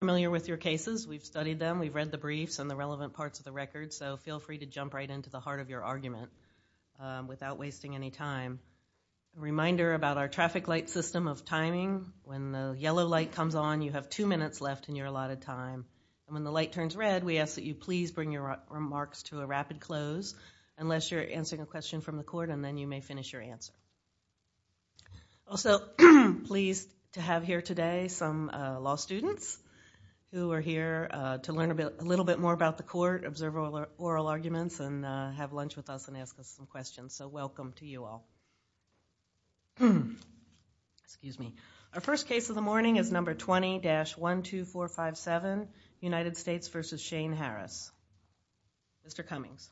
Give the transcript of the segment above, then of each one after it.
familiar with your cases we've studied them we've read the briefs and the relevant parts of the record so feel free to jump right into the heart of your argument without wasting any time reminder about our traffic light system of timing when the yellow light comes on you have two minutes left and you're a lot of time when the light turns red we ask that you please bring your remarks to a rapid close unless you're answering a question from the court and then you may finish your answer also pleased to have here today some law students who are here to learn a bit a little bit more about the court observe all our oral arguments and have lunch with us and ask us some questions so welcome to you all excuse me our first case of the morning is number 20 dash one two four five seven United States versus Shane Harris mr. Cummings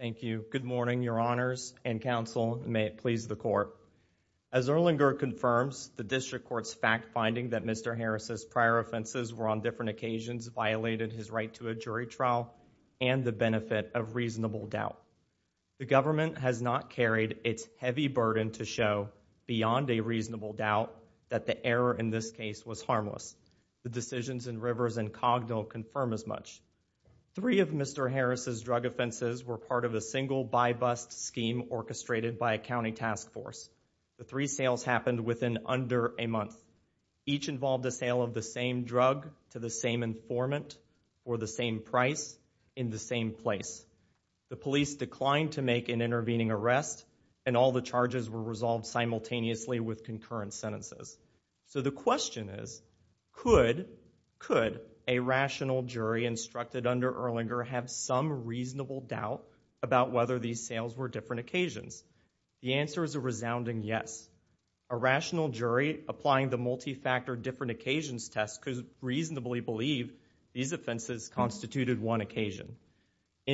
thank you good morning your honors and counsel may it please the court as Erlanger confirms the district courts fact-finding that mr. Harris's prior offenses were on different occasions violated his right to a jury trial and the benefit of reasonable doubt the government has not carried its heavy burden to show beyond a reasonable doubt that the error in this case was harmless the decisions and rivers and Cognell confirm as much three of mr. Harris's drug offenses were part of a single by bust scheme orchestrated by a county task force the three sales happened within under a month each involved the sale of the same drug to the same informant or the same price in the same place the police declined to make an intervening arrest and all the charges were resolved simultaneously with concurrent sentences so the question is could could a rational jury instructed under Erlanger have some reasonable doubt about whether these sales were different occasions the answer is a resounding yes a rational jury applying the multi-factor different occasions test could reasonably believe these offenses constituted one occasion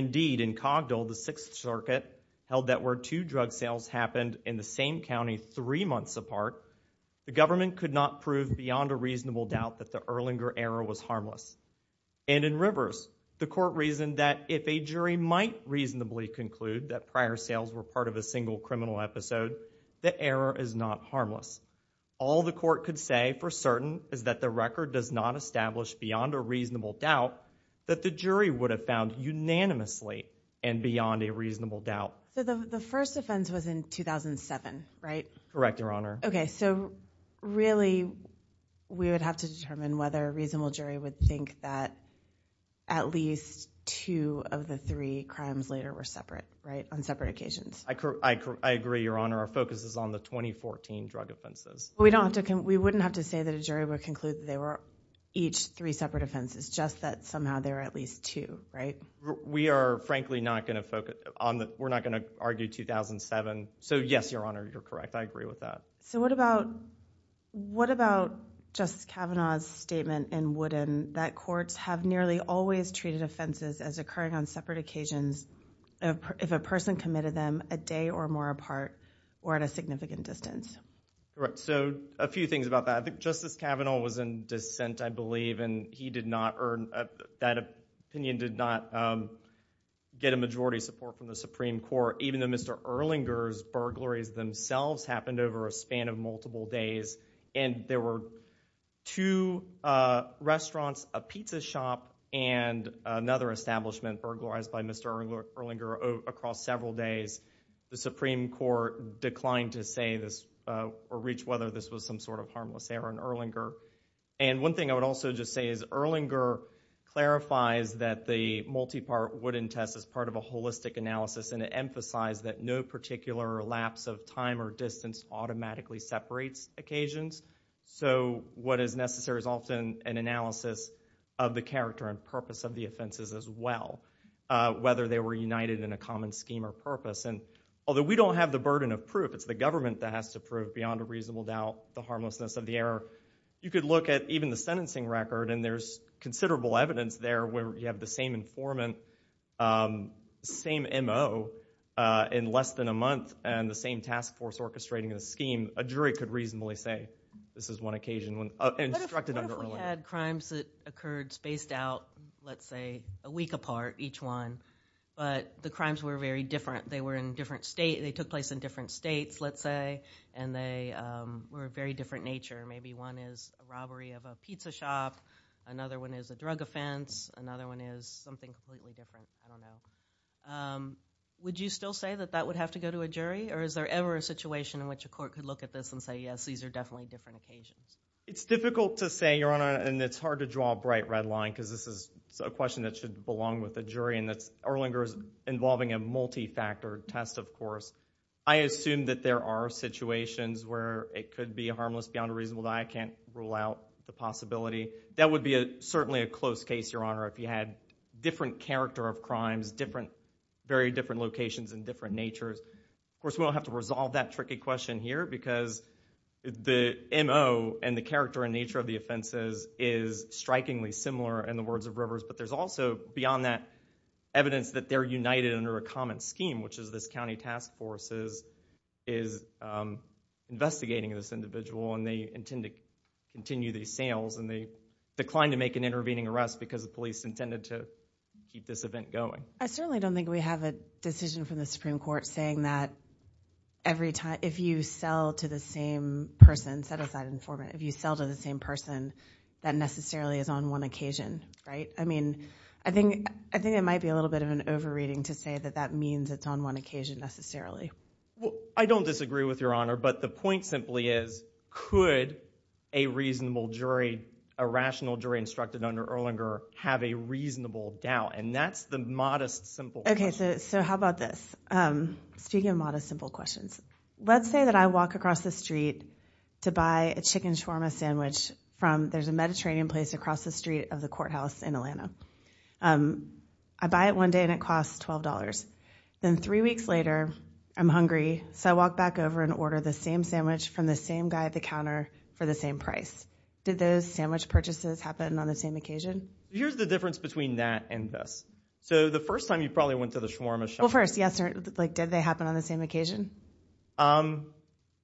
indeed in Cogdell the Sixth Circuit held that two drug sales happened in the same County three months apart the government could not prove beyond a reasonable doubt that the Erlanger error was harmless and in rivers the court reasoned that if a jury might reasonably conclude that prior sales were part of a single criminal episode the error is not harmless all the court could say for certain is that the record does not establish beyond a reasonable doubt that the jury would have found unanimously and beyond a reasonable doubt the first offense was in 2007 right correct your honor okay so really we would have to determine whether reasonable jury would think that at least two of the three crimes later were separate right on separate occasions I agree your honor our focus is on the 2014 drug offenses we don't have to come we wouldn't have to say that a jury would conclude they were each three separate offenses just that somehow there are at least two right we are frankly not gonna focus on that we're not gonna argue 2007 so yes your honor you're correct I agree with that so what about what about Justice Kavanaugh's statement in wooden that courts have nearly always treated offenses as occurring on separate occasions if a person committed them a day or more apart or at a significant distance right so a few things about that Justice Kavanaugh was in dissent I believe and he did not earn that opinion did not get a majority support from the Supreme Court even though mr. Erlinger's burglaries themselves happened over a span of multiple days and there were two restaurants a pizza shop and another establishment burglarized by mr. Erlinger across several days the Supreme Court declined to say this or reach whether this was some sort of an Erlinger and one thing I would also just say is Erlinger clarifies that the multi-part wooden test as part of a holistic analysis and it emphasized that no particular lapse of time or distance automatically separates occasions so what is necessary is often an analysis of the character and purpose of the offenses as well whether they were united in a common scheme or purpose and although we don't have the burden of proof it's the government that has to prove beyond a reasonable doubt the harmlessness of the error you could look at even the sentencing record and there's considerable evidence there where you have the same informant same mo in less than a month and the same task force orchestrating a scheme a jury could reasonably say this is one occasion when we had crimes that occurred spaced out let's say a week apart each one but the crimes were very different they were in different state they took place in different states let's say and they were very different nature maybe one is a robbery of a pizza shop another one is a drug offense another one is something would you still say that that would have to go to a jury or is there ever a situation in which a court could look at this and say yes these are definitely different occasions it's difficult to say your honor and it's hard to draw a bright red line because this is a question that should belong with the jury and that's Erlinger is involving a multi-factor test of course I assume that there are situations where it could be a harmless beyond a reasonable I can't rule out the possibility that would be a certainly a close case your honor if you had different character of crimes different very different locations and different natures will have to resolve that tricky question here because the mo and the character and nature of the offenses is strikingly similar in the words of rivers but there's also beyond that evidence that they're united under a common scheme which is this county task forces is investigating this individual and they intend to continue these sales and they declined to make an intervening arrest because the police intended to keep this event going I certainly don't think we have a decision from the Supreme Court saying that every time if you sell to the same person set aside informant if you sell to the same person that necessarily is on one occasion right I mean I think I think it might be a little bit of an overreading to say that that means it's on one occasion necessarily I don't disagree with your honor but the point simply is could a reasonable jury a rational jury instructed under Erlinger have a reasonable doubt and that's the modest simple okay so how about this speaking of modest simple questions let's say that I walk across the street to buy a chicken shawarma sandwich from there's a I buy it one day and it costs $12 then three weeks later I'm hungry so I walk back over and order the same sandwich from the same guy at the counter for the same price did those sandwich purchases happen on the same occasion here's the difference between that and this so the first time you probably went to the shawarma shop first yes sir like did they happen on the same occasion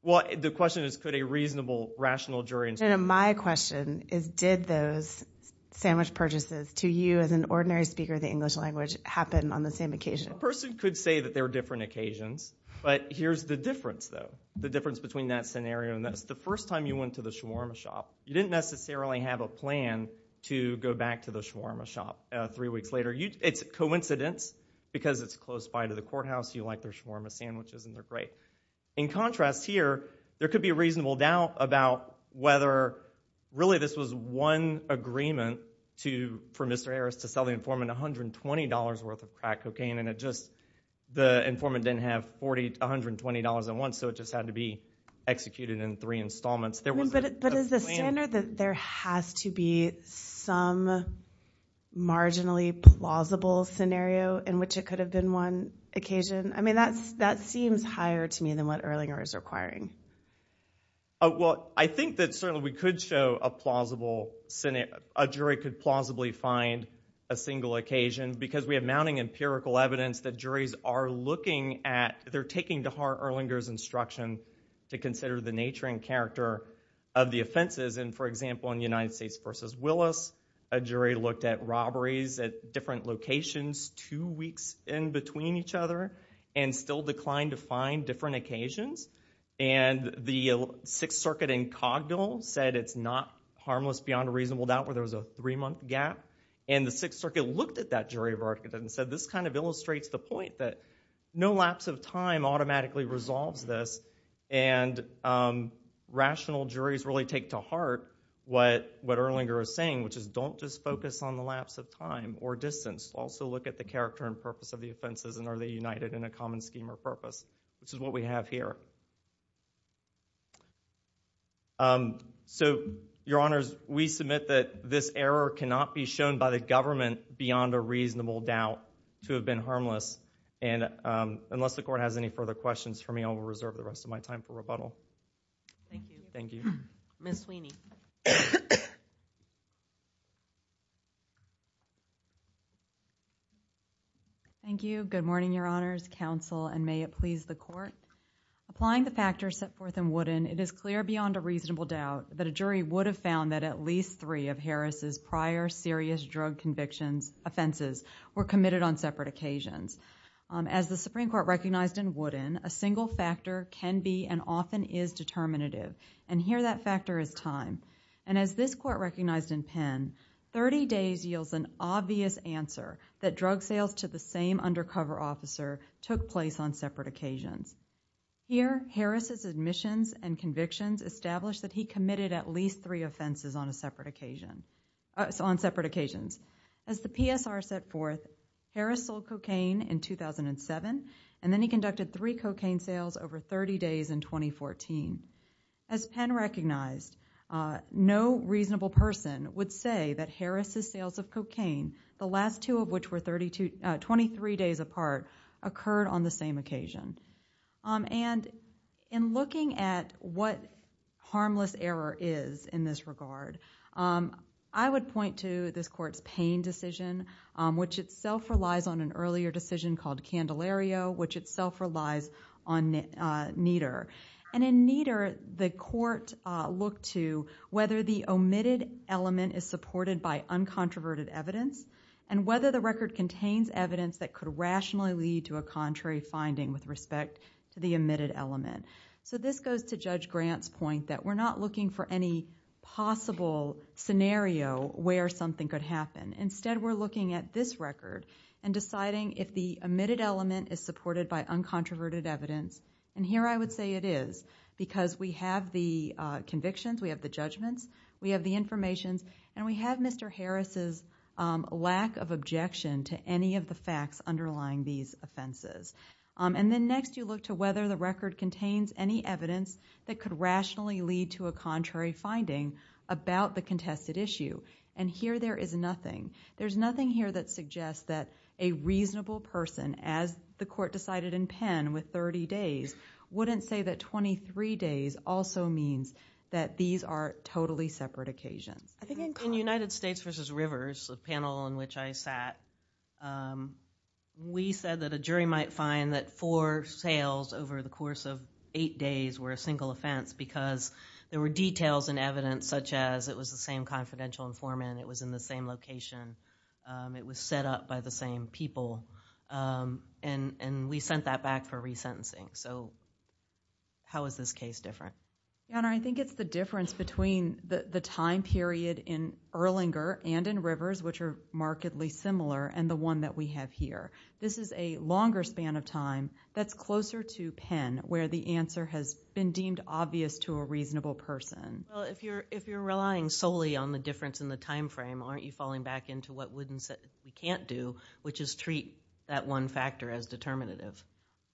what the question is could a reasonable rational jury and my question is did those sandwich purchases to you as an ordinary speaker the English language happen on the same occasion person could say that there are different occasions but here's the difference though the difference between that scenario and that's the first time you went to the shawarma shop you didn't necessarily have a plan to go back to the shawarma shop three weeks later you it's a coincidence because it's close by to the courthouse you like their shawarma sandwiches and they're great in contrast here there could be a reasonable doubt about whether really this was one agreement to for mr. Harris to sell the informant $120 worth of crack cocaine and it just the informant didn't have $40 $120 at once so it just had to be executed in three installments there was a standard that there has to be some marginally plausible scenario in which it could have been one occasion I mean that's that seems higher to me than what Erlinger is requiring oh well I think that certainly we could show a plausible Senate a jury could plausibly find a single occasion because we have mounting empirical evidence that juries are looking at they're taking to heart Erlinger's instruction to consider the nature and character of the offenses and for example in the United States versus Willis a jury looked at robberies at different locations two weeks in between each other and still declined to find different occasions and the Sixth Circuit in Cogdill said it's not harmless beyond a reasonable doubt where there was a three-month gap and the Sixth Circuit looked at that jury verdict and said this kind of illustrates the point that no lapse of time automatically resolves this and rational juries really take to heart what what Erlinger is saying which is don't just focus on the lapse of time or distance also look at the character and purpose of the offenses and are they united in a common scheme or purpose which is what we have here so your honors we submit that this error cannot be shown by the government beyond a reasonable doubt to have been harmless and unless the court has any further questions for me I will reserve the rest of my time for rebuttal thank you miss weenie thank you good morning your honors counsel and may it please the court applying the factors set forth in wooden it is clear beyond a reasonable doubt that a jury would have found that at least three of Harris's prior serious drug convictions offenses were committed on separate occasions as the Supreme Court recognized in wooden a single factor can be and often is determinative and here that factor is time and as this court recognized in pen 30 days yields an obvious answer that drug sales to the same undercover officer took place on separate occasions here Harris's admissions and convictions established that he committed at least three offenses on a separate occasion on separate occasions as the PSR set forth Harris sold cocaine in 2007 and then he three cocaine sales over 30 days in 2014 as Penn recognized no reasonable person would say that Harris's sales of cocaine the last two of which were 32 23 days apart occurred on the same occasion and in looking at what harmless error is in this regard I would point to this court's pain decision which itself relies on an earlier decision called Candelaria which itself relies on neater and in neater the court looked to whether the omitted element is supported by uncontroverted evidence and whether the record contains evidence that could rationally lead to a contrary finding with respect to the omitted element so this goes to judge grants point that we're not looking for any possible scenario where something could happen instead we're looking at this record and deciding if the omitted element is supported by uncontroverted evidence and here I would say it is because we have the convictions we have the judgments we have the information and we have Mr. Harris's lack of objection to any of the facts underlying these offenses and then next you look to whether the record contains any evidence that could rationally lead to a contrary finding about the contested issue and here there is nothing there's nothing here that suggests that a reasonable person as the court decided in Penn with 30 days wouldn't say that 23 days also means that these are totally separate occasions I think in the United States versus rivers of panel in which I sat we said that a jury might find that for sales over the course of eight days were a single offense because there were details and evidence such as it was the same confidential informant it was in the same location it was set up by the same people and and we sent that back for resentencing so how is this case different and I think it's the difference between the time period in Erlanger and in rivers which are markedly similar and the one that we have here this is a longer span of time that's closer to Penn where the answer has been deemed obvious to a reasonable person if you're if you're relying solely on the difference in the time frame aren't you falling back into what wouldn't set you can't do which is treat that one factor as determinative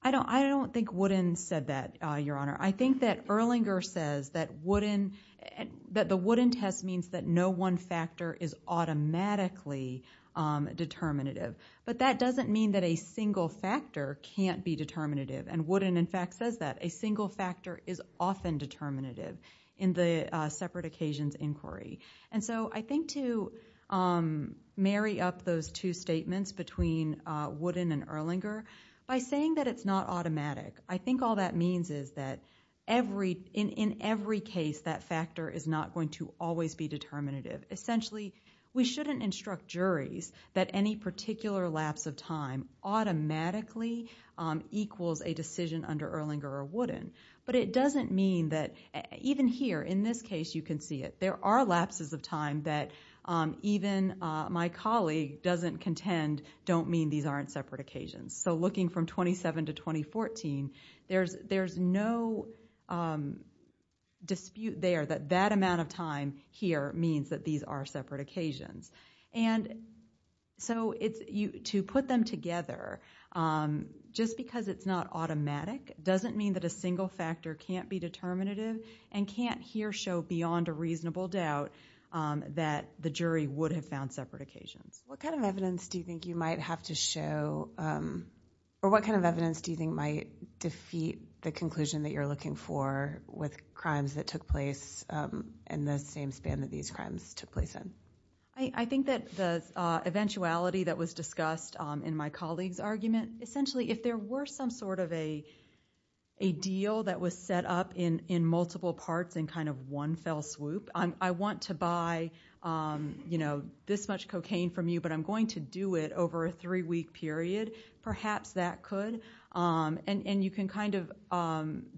I don't I don't think wouldn't said that your honor I think that Erlanger says that wouldn't and that the wooden test means that no one factor is automatically determinative but that doesn't mean that a single factor can't be determinative and wouldn't in fact says that a single factor is often determinative in the separate occasions inquiry and so I think to marry up those two statements between wooden and Erlanger by saying that it's not automatic I think all that means is that every in in every case that factor is not going to always be determinative essentially we shouldn't instruct juries that any particular lapse of time automatically equals a decision under Erlanger or wooden but it doesn't mean that even here in this case you can see it there are lapses of time that even my colleague doesn't contend don't mean these aren't separate occasions so looking from 27 to 2014 there's there's no dispute there that that amount of time here means that these are separate occasions and so it's you to put them together just because it's not automatic doesn't mean that a single factor can't be determinative and can't here show beyond a reasonable doubt that the jury would have found separate occasions what kind of evidence do you think you might have to show or what kind of evidence do you think might defeat the conclusion that you're looking for with crimes that took place in the same span that these crimes took place in I think that the eventuality that was discussed in my colleagues argument essentially if there were some sort of a a deal that was set up in in multiple parts and kind of one fell swoop I want to buy you know this much cocaine from you but I'm going to do it over a three-week period perhaps that could and and you can kind of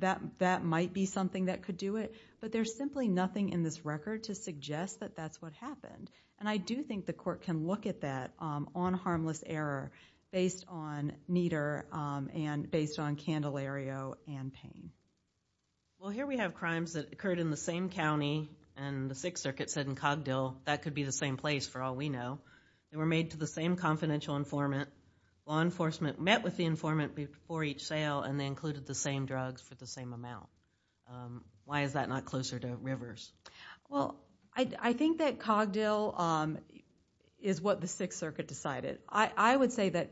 that that might be something that could do it but there's simply nothing in this record to suggest that that's what happened and I do think the court can look at that on harmless error based on meter and based on Candelario and here we have crimes that occurred in the same county and the Sixth Circuit said in Cogdill that could be the same place for all we know were made to the same confidential informant law enforcement met with the informant before each sale and included the same drugs for the same amount why is that closer to rivers I think that Cogdill is what the Sixth Circuit decided I would say that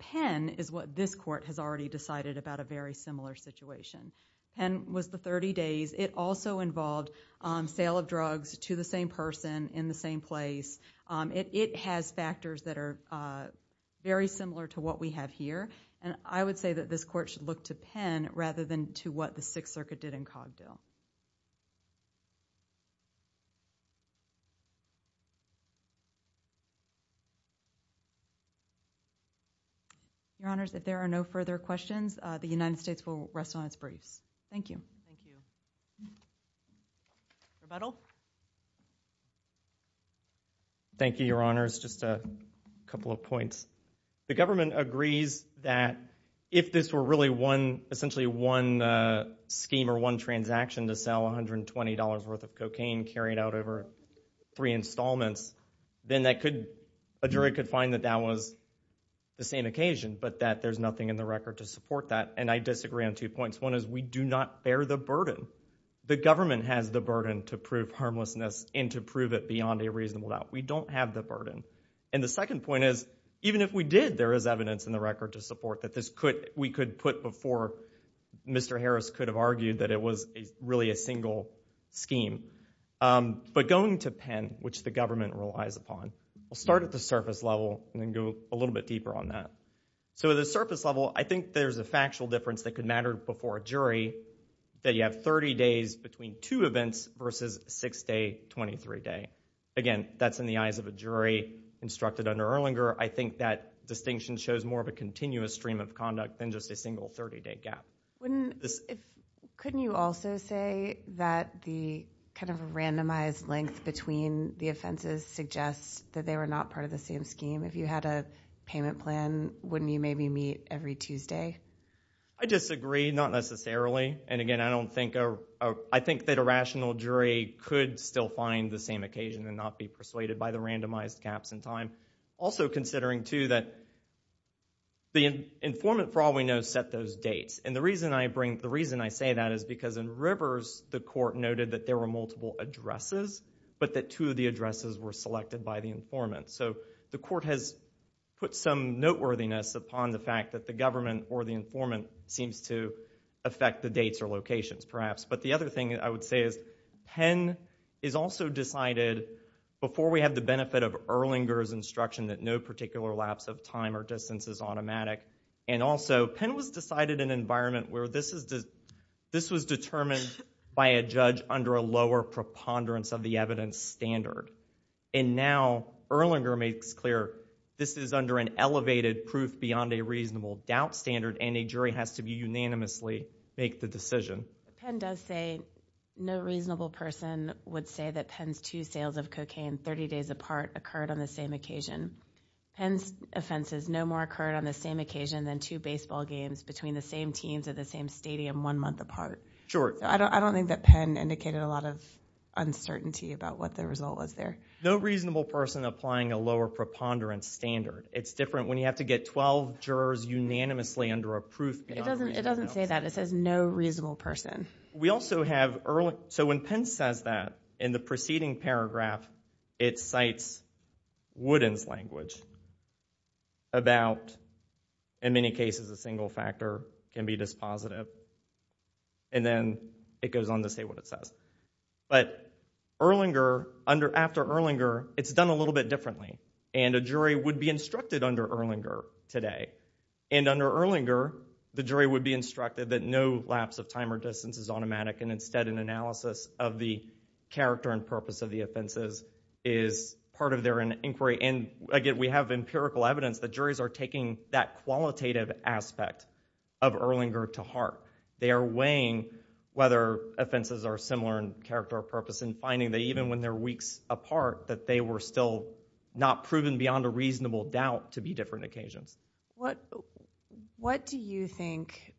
Penn is what this court has already decided about a very similar situation and was the 30 days it also involved sale of drugs to the same person in the same place it has factors that are very similar to what we have here and I would say that this court should look to Penn rather than to what the Sixth Circuit did in Cogdill your honor's that there are no further questions the United States will rest on its briefs thank you thank you your honor's just a couple of points the government agrees that if this were really one essentially one scheme or one transaction to sell $120 worth of cocaine carried out over three installments then that could a jury could find that that was the same occasion but that there's nothing in the record to support that and I disagree on two points one is we do not bear the burden the government has the burden to prove harmlessness and to prove it beyond a reasonable doubt we don't have the burden and the second point is even if we did there is evidence in the record to support that this could we could put before mr. Harris could have argued that it was really a single scheme but going to Penn which the government relies upon we'll start at the surface level and then go a little bit deeper on that so the surface level I think there's a factual difference that could matter before a jury that you have 30 days between two events versus six day 23 day again that's in the eyes of a jury instructed under Erlinger I think that distinction shows more of a continuous stream of conduct than just a single 30-day gap wouldn't this couldn't you also say that the kind of a randomized length between the offenses suggests that they were not part of the same scheme if you had a payment plan wouldn't you maybe meet every Tuesday I disagree not necessarily and again I don't think I think that a rational jury could still find the same occasion and not be persuaded by the randomized gaps in time also considering to that the informant probably knows set those dates and the reason I bring the reason I say that is because in rivers the court noted that there were multiple addresses but that two of the addresses were selected by the informant so the court has put some noteworthiness upon the fact that the government or the informant seems to affect the dates or locations perhaps but the other thing I would say is Penn is also decided before we have the benefit of Erlinger's instruction that no particular lapse of time or distance is automatic and also Penn was decided an environment where this is just this was determined by a judge under a lower preponderance of the evidence standard and now Erlinger makes clear this is under an elevated proof beyond a reasonable doubt standard and a has to be unanimously make the decision. Penn does say no reasonable person would say that Penn's two sales of cocaine 30 days apart occurred on the same occasion and offenses no more occurred on the same occasion than two baseball games between the same teams at the same stadium one month apart. Sure. I don't think that Penn indicated a lot of uncertainty about what the result was there. No reasonable person applying a lower preponderance standard it's different when you have to get 12 jurors unanimously under a proof. It doesn't it doesn't say that it says no reasonable person. We also have early so when Penn says that in the preceding paragraph it cites Woodin's language about in many cases a single factor can be dispositive and then it goes on to say what it says but Erlinger under after Erlinger it's done a little bit differently and a jury would be instructed under Erlinger today and under Erlinger the jury would be instructed that no lapse of time or distance is automatic and instead an analysis of the character and purpose of the offenses is part of their inquiry and again we have empirical evidence that juries are taking that qualitative aspect of Erlinger to heart. They are weighing whether offenses are similar in character or purpose and finding that even when they're weeks apart that they were still not proven beyond a reasonable doubt to be different occasions. What what do you think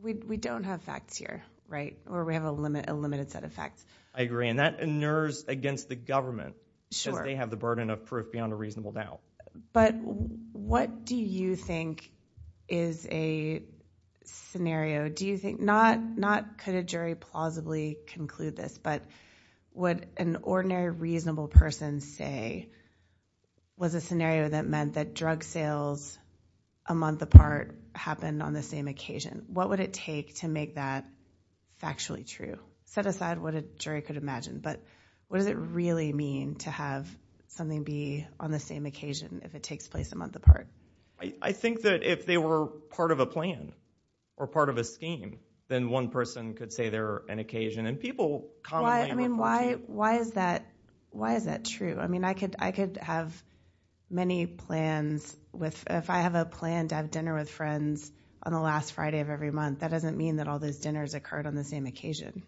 we don't have facts here right where we have a limit a limited set of facts. I agree and that inures against the government. Sure. They have the burden of proof beyond a reasonable doubt. But what do you think is a scenario do you think not not could a jury plausibly conclude this but what an ordinary reasonable person say was a scenario that meant that drug sales a month apart happened on the same occasion. What would it take to make that factually true? Set aside what a jury could imagine but what does it really mean to have something be on the same occasion if it takes place a month apart? I think that if they were part of a plan or part of a scheme then one person could say they're an occasion and people. Why I mean why why is that why is that true? I mean I could I could have many plans with if I have a plan to have dinner with friends on the last Friday of every month that doesn't mean that all those dinners occurred on the same occasion.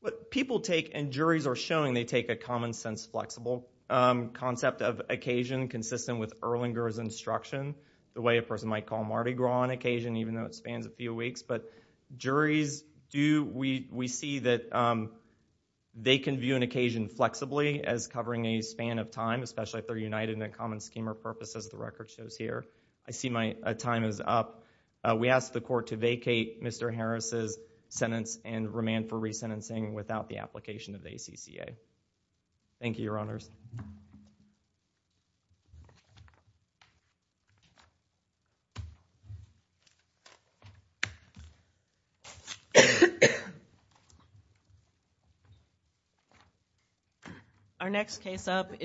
But people take and juries are showing they take a common-sense flexible concept of occasion consistent with Erlinger's instruction the way a person might call Mardi Gras on occasion even though it spans a few weeks but juries do we we see that they can view an occasion flexibly as covering a span of time especially if they're united in a common scheme or purpose as the record shows here. I see my time is up. We asked the court to vacate Mr. Harris's sentence and remand for resentencing without the application of the ACCA. Thank you your comment. our next case up is